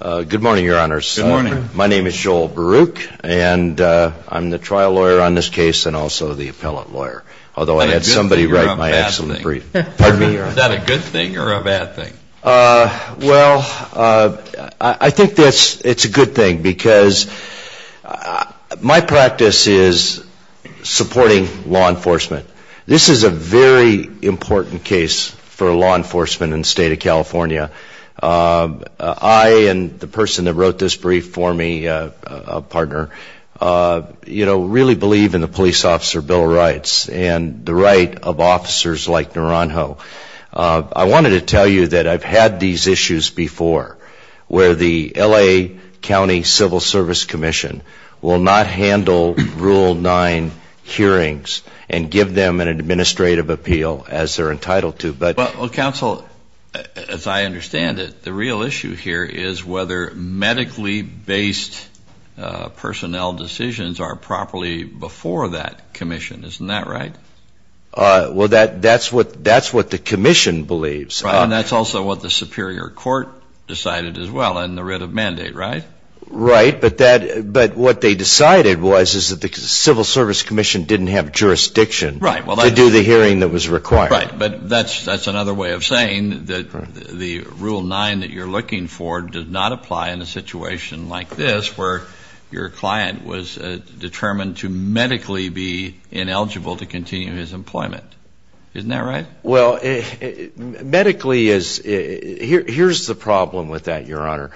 Good morning, Your Honors. Good morning. My name is Joel Baruch, and I'm the trial lawyer on this case and also the appellate lawyer, although I had somebody write my excellent brief. Pardon me, Your Honor. Is that a good thing or a bad thing? Well, I think it's a good thing because my practice is supporting law enforcement. This is a very important case for law enforcement in the state of California. I and the person that wrote this brief for me, a partner, really believe in the police officer bill of rights and the right of officers like Naranjo. I wanted to tell you that I've had these issues before where the L.A. County Civil Service Commission will not handle Rule 9 hearings and give them an administrative appeal as they're entitled to. Well, counsel, as I understand it, the real issue here is whether medically based personnel decisions are properly before that commission. Isn't that right? Well, that's what the commission believes. And that's also what the superior court decided as well in the writ of mandate, right? Right. But what they decided was is that the Civil Service Commission didn't have jurisdiction to do the hearing that was required. Right. But that's another way of saying that the Rule 9 that you're looking for does not apply in a situation like this where your client was determined to medically be ineligible to continue his employment. Isn't that right? Well, medically, here's the problem with that, Your Honor.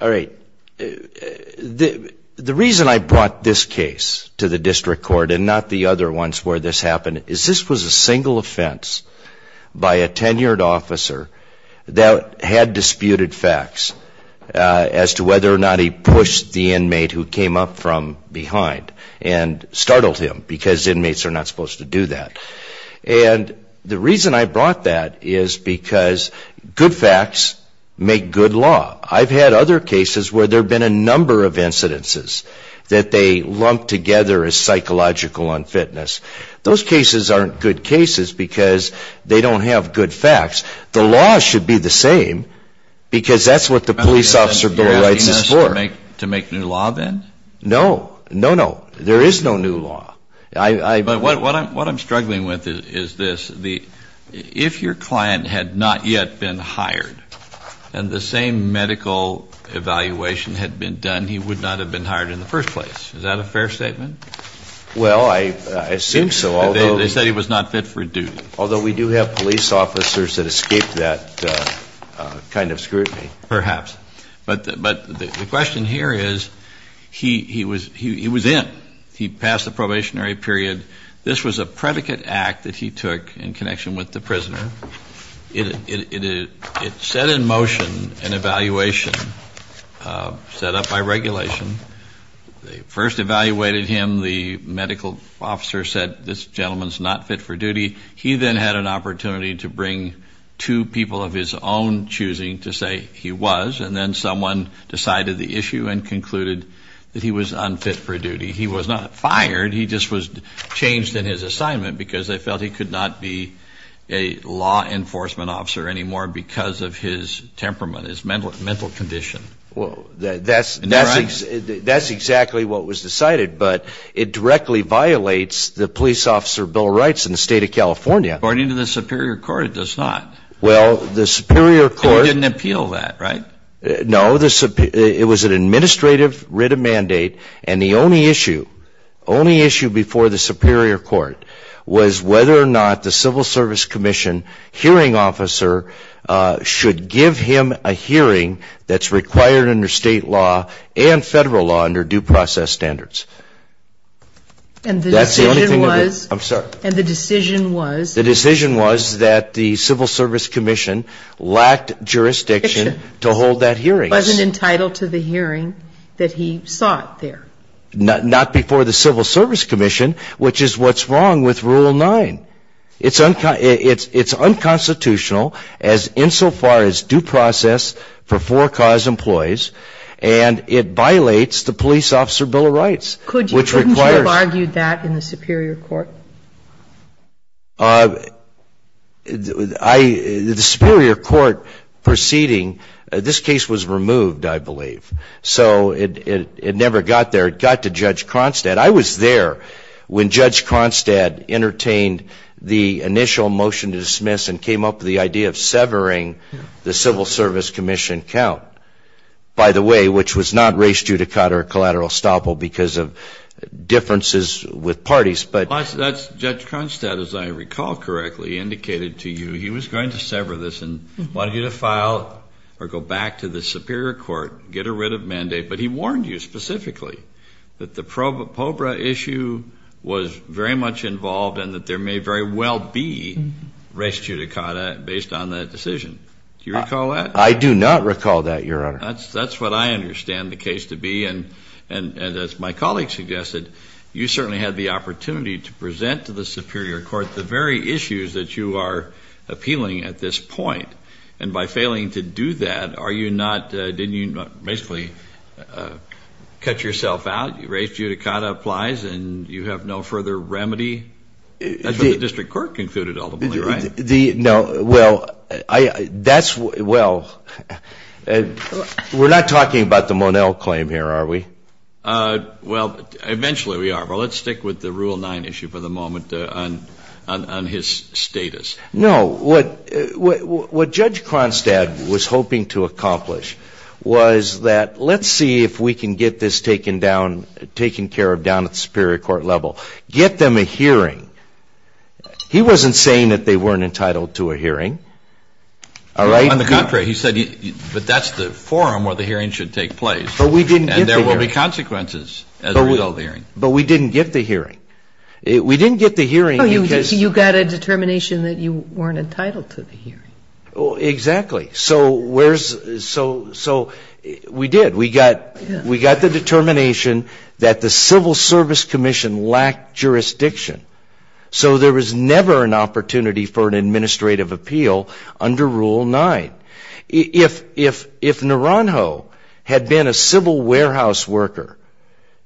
All right. The reason I brought this case to the district court and not the other ones where this happened is this was a single offense by a tenured officer that had disputed facts as to whether or not he pushed the inmate who came up from behind and startled him because inmates are not supposed to do that. And the reason I brought that is because good facts make good law. I've had other cases where there have been a number of incidences that they lump together as psychological unfitness. Those cases aren't good cases because they don't have good facts. The law should be the same because that's what the police officer below rights is for. You're asking us to make new law then? No. No, no. There is no new law. But what I'm struggling with is this. If your client had not yet been hired and the same medical evaluation had been done, he would not have been hired in the first place. Is that a fair statement? Well, I assume so. They said he was not fit for duty. Although we do have police officers that escape that kind of scrutiny. Perhaps. But the question here is he was in. He passed the probationary period. This was a predicate act that he took in connection with the prisoner. It set in motion an evaluation set up by regulation. They first evaluated him. The medical officer said this gentleman's not fit for duty. He then had an opportunity to bring two people of his own choosing to say he was. And then someone decided the issue and concluded that he was unfit for duty. He was not fired. He just was changed in his assignment because they felt he could not be a law enforcement officer anymore because of his temperament, his mental condition. Well, that's exactly what was decided. But it directly violates the police officer bill of rights in the state of California. According to the superior court, it does not. Well, the superior court. They didn't appeal that, right? No. It was an administrative writ of mandate. And the only issue, only issue before the superior court was whether or not the civil service commission hearing officer should give him a hearing that's required under state law and federal law under due process standards. That's the only thing. And the decision was. I'm sorry. And the decision was. The decision was that the civil service commission lacked jurisdiction to hold that hearing. He wasn't entitled to the hearing that he sought there. Not before the civil service commission, which is what's wrong with rule 9. It's unconstitutional as insofar as due process for four cause employees. And it violates the police officer bill of rights. Couldn't you have argued that in the superior court? The superior court proceeding, this case was removed, I believe. So it never got there. It got to Judge Cronstadt. I was there when Judge Cronstadt entertained the initial motion to dismiss and came up with the idea of severing the civil service commission count, by the way, which was not race judicata or collateral estoppel because of differences with parties. Judge Cronstadt, as I recall correctly, indicated to you he was going to sever this and wanted you to file or go back to the superior court, get rid of mandate. But he warned you specifically that the POBRA issue was very much involved and that there may very well be race judicata based on that decision. Do you recall that? I do not recall that, Your Honor. That's what I understand the case to be. And as my colleague suggested, you certainly had the opportunity to present to the superior court the very issues that you are appealing at this point. And by failing to do that, didn't you basically cut yourself out? Race judicata applies and you have no further remedy? That's what the district court concluded, ultimately, right? Well, we're not talking about the Monell claim here, are we? Well, eventually we are. But let's stick with the Rule 9 issue for the moment on his status. No. What Judge Cronstadt was hoping to accomplish was that let's see if we can get this taken down, taken care of down at the superior court level. Get them a hearing. He wasn't saying that they weren't entitled to a hearing, all right? On the contrary. He said, but that's the forum where the hearing should take place. But we didn't get the hearing. And there will be consequences as a result of the hearing. But we didn't get the hearing. We didn't get the hearing because you got a determination that you weren't entitled to the hearing. Exactly. So we did. We got the determination that the Civil Service Commission lacked jurisdiction. So there was never an opportunity for an administrative appeal under Rule 9. If Naranjo had been a civil warehouse worker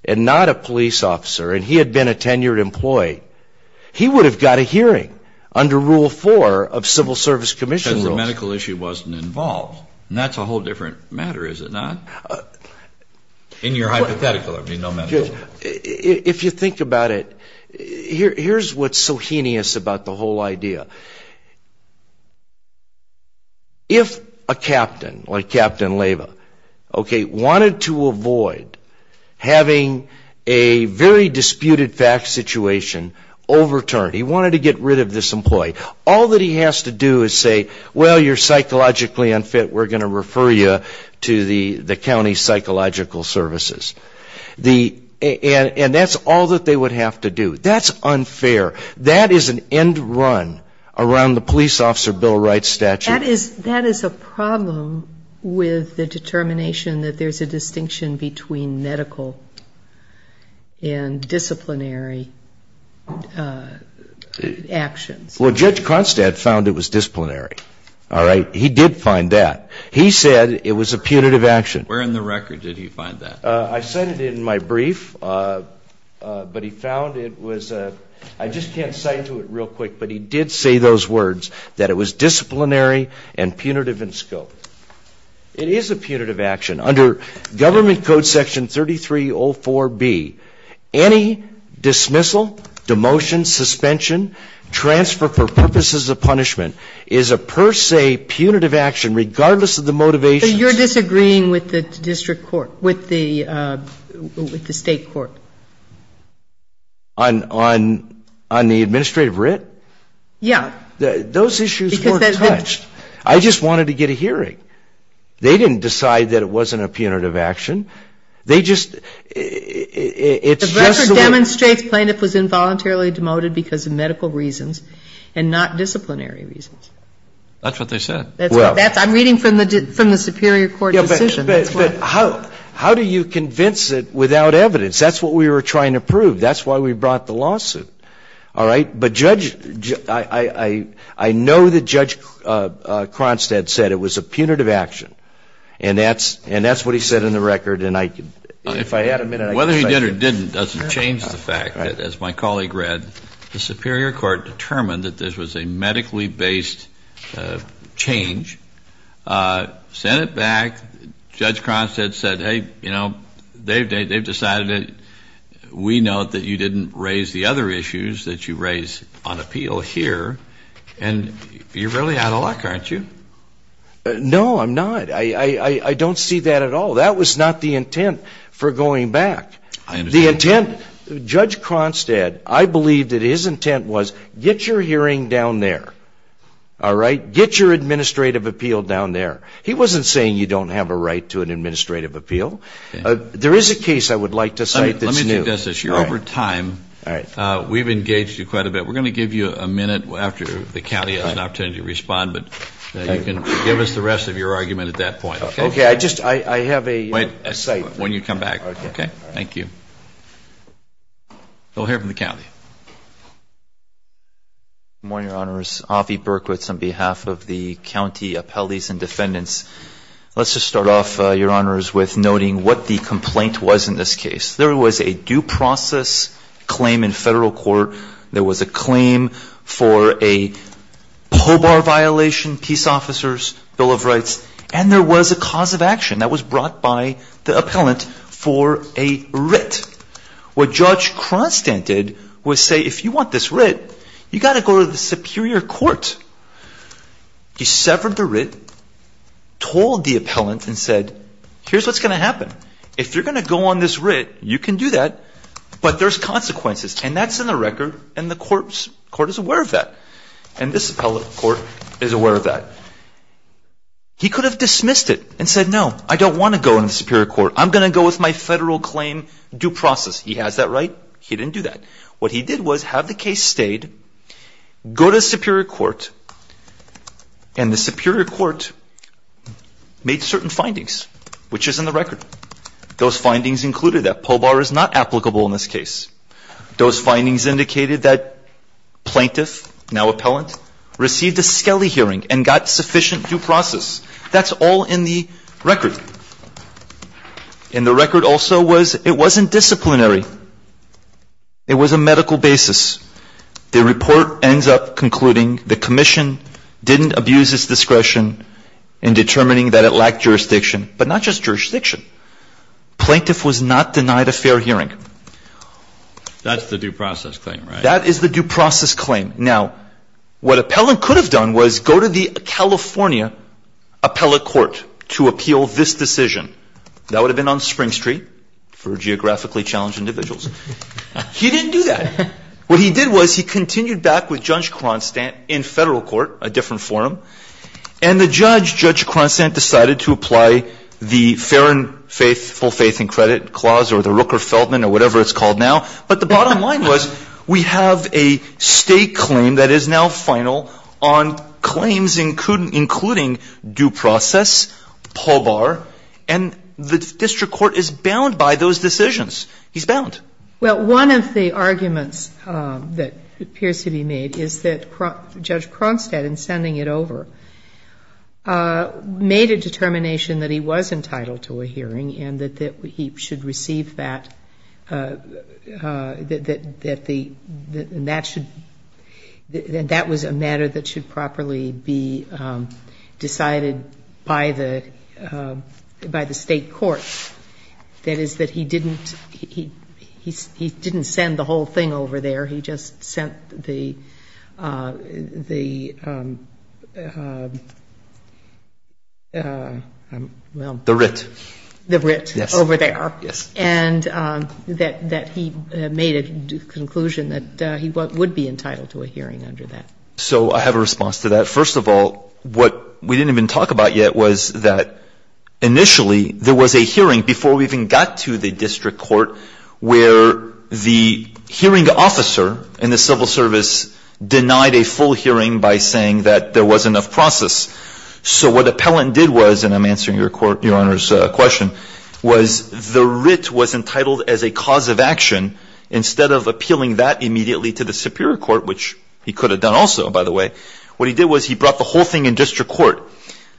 and not a police officer, and he had been a tenured employee, he would have got a hearing under Rule 4 of Civil Service Commission. Because the medical issue wasn't involved. And that's a whole different matter, is it not? In your hypothetical, there would be no medical issue. If you think about it, here's what's so heinous about the whole idea. If a captain, like Captain Leyva, wanted to avoid having a very disputed fact situation overturned, he wanted to get rid of this employee, all that he has to do is say, well, you're psychologically unfit. We're going to refer you to the county psychological services. And that's all that they would have to do. That's unfair. That is an end run around the police officer Bill Wright statute. That is a problem with the determination that there's a distinction between medical and disciplinary actions. Well, Judge Cronstadt found it was disciplinary. All right? He did find that. He said it was a punitive action. Where in the record did he find that? I cited it in my brief, but he found it was a ‑‑ I just can't cite to it real quick, but he did say those words, that it was disciplinary and punitive in scope. It is a punitive action. Under government code section 3304B, any dismissal, demotion, suspension, transfer for purposes of punishment is a per se punitive action regardless of the motivation. But you're disagreeing with the district court, with the state court. On the administrative writ? Yeah. Those issues weren't touched. I just wanted to get a hearing. All right? They didn't decide that it wasn't a punitive action. They just ‑‑ The record demonstrates plaintiff was involuntarily demoted because of medical reasons and not disciplinary reasons. That's what they said. I'm reading from the superior court decision. But how do you convince it without evidence? That's what we were trying to prove. That's why we brought the lawsuit. All right? I know that Judge Cronstead said it was a punitive action. And that's what he said in the record. And if I had a minute, I could ‑‑ Whether he did or didn't doesn't change the fact that, as my colleague read, the superior court determined that this was a medically based change, sent it back. Judge Cronstead said, hey, you know, they've decided it. We note that you didn't raise the other issues that you raise on appeal here. And you're really out of luck, aren't you? No, I'm not. I don't see that at all. That was not the intent for going back. The intent ‑‑ I understand. Judge Cronstead, I believe that his intent was get your hearing down there. All right? Get your administrative appeal down there. He wasn't saying you don't have a right to an administrative appeal. There is a case I would like to cite that's new. Let me suggest this. You're over time. All right. We've engaged you quite a bit. We're going to give you a minute after the county has an opportunity to respond. But you can give us the rest of your argument at that point. Okay. I just ‑‑ I have a ‑‑ Wait. When you come back. Okay. Thank you. We'll hear from the county. Good morning, Your Honors. Avi Berkowitz on behalf of the county appellees and defendants. Let's just start off, Your Honors, with noting what the complaint was in this case. There was a due process claim in federal court. There was a claim for a POBAR violation, Peace Officers' Bill of Rights. And there was a cause of action that was brought by the appellant for a writ. What Judge Cronstead did was say if you want this writ, you've got to go to the superior court. He severed the writ, told the appellant and said, here's what's going to happen. If you're going to go on this writ, you can do that, but there's consequences. And that's in the record, and the court is aware of that. And this appellate court is aware of that. He could have dismissed it and said, no, I don't want to go in the superior court. I'm going to go with my federal claim due process. He has that right. He didn't do that. What he did was have the case stayed, go to the superior court, and the superior court made certain findings, which is in the record. Those findings included that POBAR is not applicable in this case. Those findings indicated that plaintiff, now appellant, received a skelly hearing and got sufficient due process. That's all in the record. And the record also was it wasn't disciplinary. It was a medical basis. The report ends up concluding the commission didn't abuse its discretion in determining that it lacked jurisdiction, but not just jurisdiction. Plaintiff was not denied a fair hearing. That's the due process claim, right? That is the due process claim. Now, what appellant could have done was go to the California appellate court to appeal this decision. That would have been on Spring Street for geographically challenged individuals. He didn't do that. What he did was he continued back with Judge Cronstant in federal court, a different forum, and the judge, Judge Cronstant, decided to apply the fair and faithful faith in credit clause or the Rooker-Feldman or whatever it's called now. But the bottom line was we have a state claim that is now final on claims including due process, POBAR, and the district court is bound by those decisions. He's bound. Well, one of the arguments that appears to be made is that Judge Cronstant in sending it over made a determination that he was entitled to a hearing and that he should receive that and that was a matter that should properly be decided by the state court. That is that he didn't, he didn't send the whole thing over there. He just sent the, the, well. The writ. The writ over there. Yes. And that he made a conclusion that he would be entitled to a hearing under that. So I have a response to that. First of all, what we didn't even talk about yet was that initially there was a hearing before we even got to the district court where the hearing officer in the civil service denied a full hearing by saying that there was enough process. So what Appellant did was, and I'm answering your Honor's question, was the writ was entitled as a cause of action. Instead of appealing that immediately to the superior court, which he could have done also, by the way, what he did was he brought the whole thing in district court.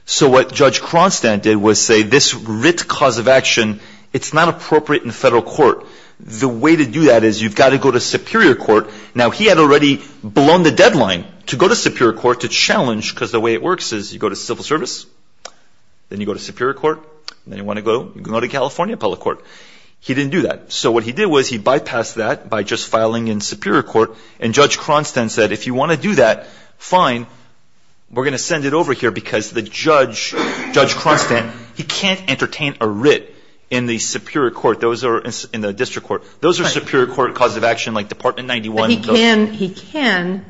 So what Judge Cronstan did was say this writ cause of action, it's not appropriate in federal court. The way to do that is you've got to go to superior court. Now he had already blown the deadline to go to superior court to challenge because the way it works is you go to civil service, then you go to superior court, then you want to go, you can go to California public court. He didn't do that. So what he did was he bypassed that by just filing in superior court and Judge Cronstan said if you want to do that, fine. We're going to send it over here because the judge, Judge Cronstan, he can't entertain a writ in the superior court. Those are in the district court. Those are superior court cause of action like Department 91. But he can, he can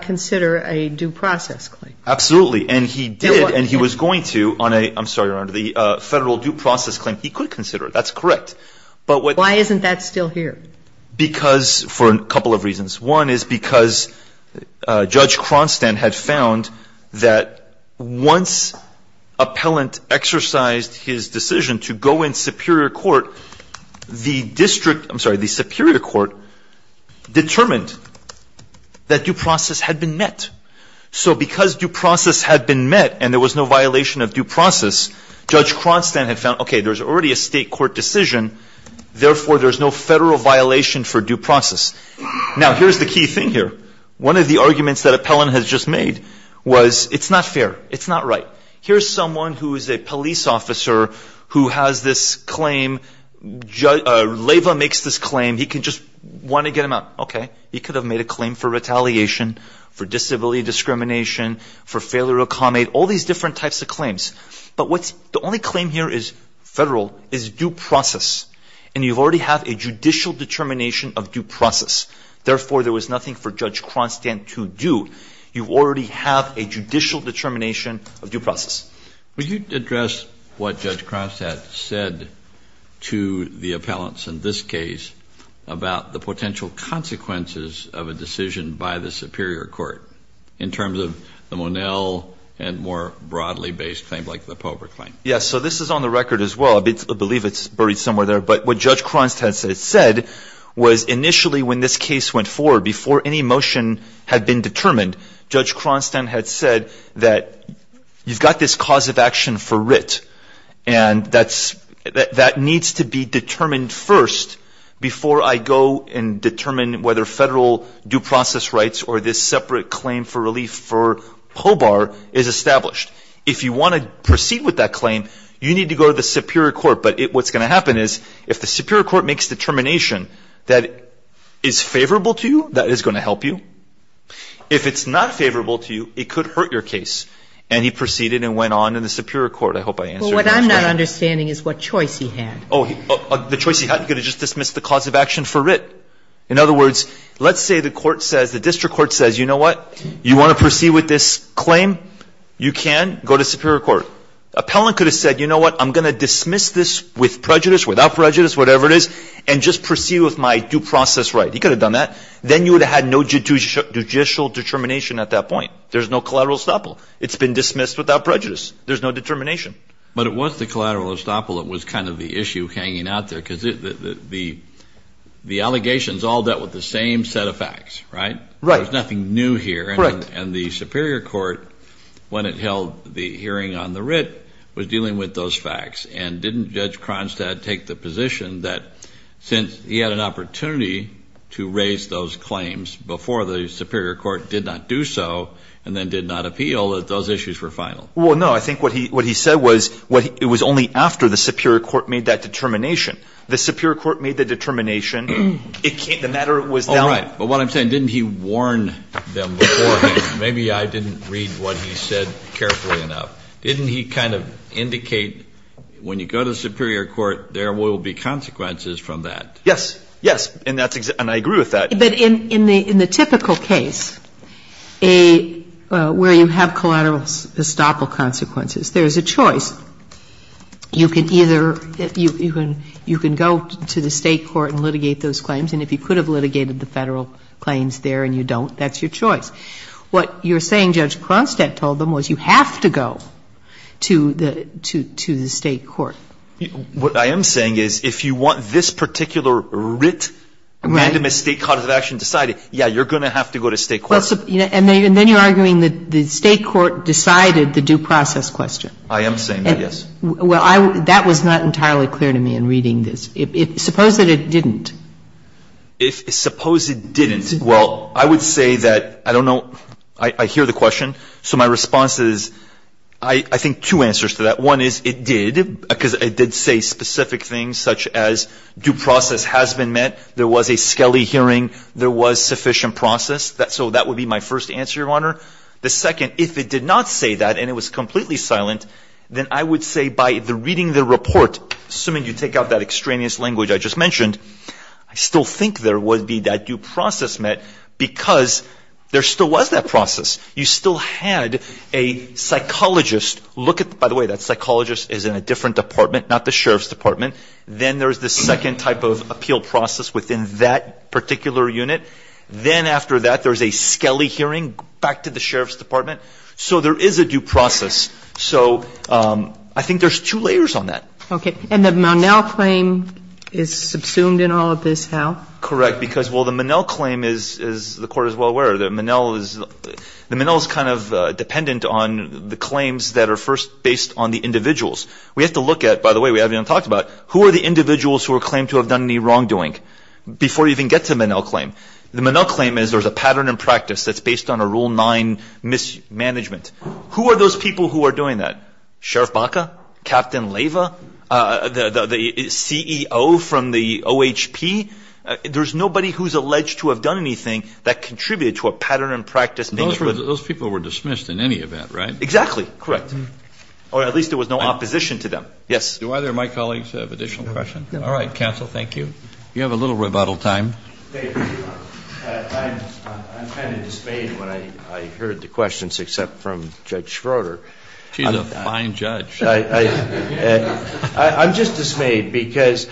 consider a due process claim. Absolutely. And he did and he was going to on a, I'm sorry, Your Honor, the federal due process claim. He could consider it. That's correct. Why isn't that still here? Because, for a couple of reasons. One is because Judge Cronstan had found that once appellant exercised his decision to go in superior court, the district, I'm sorry, the superior court determined that due process had been met. So because due process had been met and there was no violation of due process, Judge Cronstan had found, okay, there's already a state court decision, therefore there's no federal violation for due process. Now, here's the key thing here. One of the arguments that appellant has just made was it's not fair. It's not right. Here's someone who is a police officer who has this claim. Lava makes this claim. He can just want to get him out. Okay. He could have made a claim for retaliation, for disability discrimination, for failure to accommodate, all these different types of claims. But what's, the only claim here is federal, is due process. And you already have a judicial determination of due process, therefore there was nothing for Judge Cronstan to do. You already have a judicial determination of due process. Would you address what Judge Cronstan said to the appellants in this case about the potential consequences of a decision by the superior court, in terms of the Monell and more broadly based claims like the Pobre claim? Yes. So this is on the record as well. I believe it's buried somewhere there. But what Judge Cronstan had said was initially when this case went forward, before any motion had been determined, Judge Cronstan had said that you've got this cause of action for writ, and that needs to be determined first before I go and determine whether federal due process rights or this separate claim for relief for Pobre is established. If you want to proceed with that claim, you need to go to the superior court. But what's going to happen is if the superior court makes determination that is favorable to you, that is going to help you. If it's not favorable to you, it could hurt your case. And he proceeded and went on in the superior court. I hope I answered your question. But what I'm not understanding is what choice he had. Oh, the choice he had, he could have just dismissed the cause of action for writ. In other words, let's say the court says, the district court says, you know what, you want to proceed with this claim? You can go to superior court. Appellant could have said, you know what, I'm going to dismiss this with prejudice, without prejudice, whatever it is, and just proceed with my due process right. He could have done that. Then you would have had no judicial determination at that point. There's no collateral estoppel. It's been dismissed without prejudice. There's no determination. But it was the collateral estoppel that was kind of the issue hanging out there, because the allegations all dealt with the same set of facts, right? Right. There's nothing new here. Correct. And the superior court, when it held the hearing on the writ, was dealing with those facts. And didn't Judge Cronstadt take the position that since he had an opportunity to raise those claims before the superior court did not do so, and then did not appeal, that those issues were final? Well, no. I think what he said was it was only after the superior court made that determination. The superior court made the determination. The matter was now. All right. But what I'm saying, didn't he warn them beforehand? Maybe I didn't read what he said carefully enough. Didn't he kind of indicate when you go to the superior court, there will be consequences from that? Yes. Yes. And I agree with that. But in the typical case, where you have collateral estoppel consequences, there's a choice. You can either go to the State court and litigate those claims, and if you could have litigated the Federal claims there and you don't, that's your choice. What you're saying Judge Cronstadt told them was you have to go to the State court. What I am saying is if you want this particular writ, random estate cause of action decided, yes, you're going to have to go to State court. And then you're arguing that the State court decided the due process question. I am saying that, yes. Well, that was not entirely clear to me in reading this. Suppose that it didn't. Suppose it didn't. Well, I would say that, I don't know, I hear the question. So my response is I think two answers to that. One is it did, because it did say specific things such as due process has been met, there was a skelly hearing, there was sufficient process. So that would be my first answer, Your Honor. The second, if it did not say that and it was completely silent, then I would say by reading the report, assuming you take out that extraneous language I just mentioned, I still think there would be that due process met because there still was that process. You still had a psychologist look at, by the way, that psychologist is in a different department, not the Sheriff's Department. Then there's the second type of appeal process within that particular unit. Then after that there's a skelly hearing back to the Sheriff's Department. So there is a due process. So I think there's two layers on that. Okay. And the Monell claim is subsumed in all of this, how? Correct. Because, well, the Monell claim is, the Court is well aware, the Monell is kind of dependent on the claims that are first based on the individuals. We have to look at, by the way, we haven't even talked about, who are the individuals who are claimed to have done any wrongdoing before you even get to the Monell claim. The Monell claim is there's a pattern in practice that's based on a Rule 9 mismanagement. Who are those people who are doing that? Sheriff Baca? Captain Leyva? The CEO from the OHP? There's nobody who's alleged to have done anything that contributed to a pattern in practice. Those people were dismissed in any event, right? Exactly. Correct. Or at least there was no opposition to them. Yes. Do either of my colleagues have additional questions? All right. Counsel, thank you. You have a little rebuttal time. I'm kind of dismayed when I heard the questions, except from Judge Schroeder. She's a fine judge. I'm just dismayed because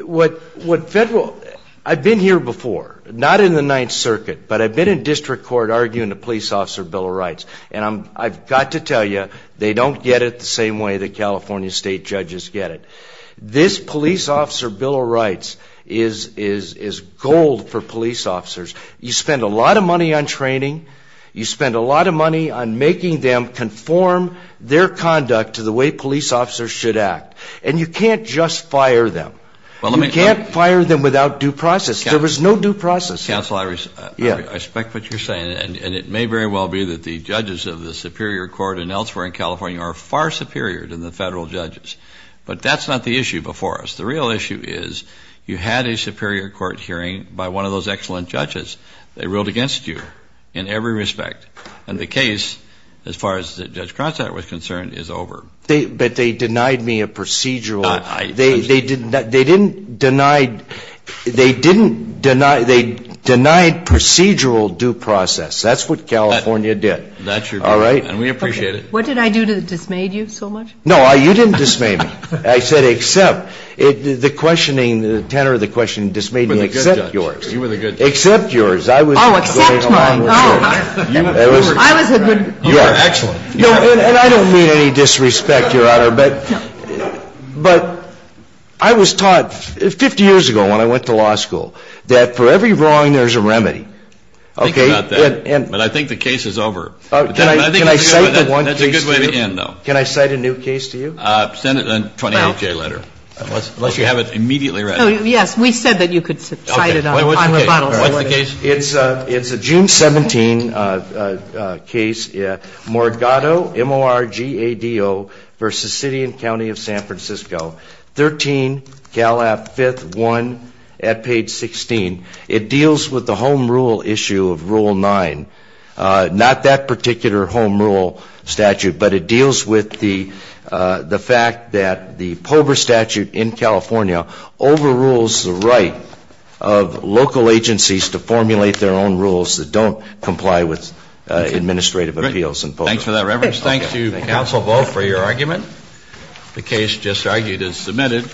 what Federal, I've been here before, not in the Ninth Circuit, but I've been in district court arguing the Police Officer Bill of Rights, and I've got to tell you, they don't get it the same way that California State judges get it. This Police Officer Bill of Rights is gold for police officers. You spend a lot of money on training. You spend a lot of money on making them conform their conduct to the way police officers should act, and you can't just fire them. You can't fire them without due process. There was no due process. Counsel, I respect what you're saying, and it may very well be that the judges of the Superior Court and elsewhere in California are far superior than the Federal judges, but that's not the issue before us. The real issue is you had a Superior Court hearing by one of those excellent judges. They ruled against you in every respect, and the case, as far as Judge Cronstadt was concerned, is over. But they denied me a procedural. I understand. They didn't deny, they denied procedural due process. That's what California did. That's your problem, and we appreciate it. What did I do to dismay you so much? No, you didn't dismay me. I said, except the questioning, the tenor of the questioning dismayed me, except yours. You were the good judge. Except yours. I was going along with yours. Oh, except mine. Oh. I was a good judge. You were excellent. And I don't mean any disrespect, Your Honor, but I was taught 50 years ago when I went to law school that for every wrong, there's a remedy. Think about that, but I think the case is over. Can I cite the one case? That's a good way to end, though. Can I cite a new case to you? Send it in a 28-J letter, unless you have it immediately ready. Yes, we said that you could cite it on rebuttal. What's the case? It's a June 17 case, Morgado, M-O-R-G-A-D-O, v. City and County of San Francisco, 13, Cal App, 5th, 1, at page 16. It deals with the home rule issue of Rule 9. Not that particular home rule statute, but it deals with the fact that the POBR statute in California overrules the right of local agencies to formulate their own rules that don't comply with administrative appeals and POBR. Great. Thanks for that reference. Thank you, Counsel Boe, for your argument. The case just argued is submitted.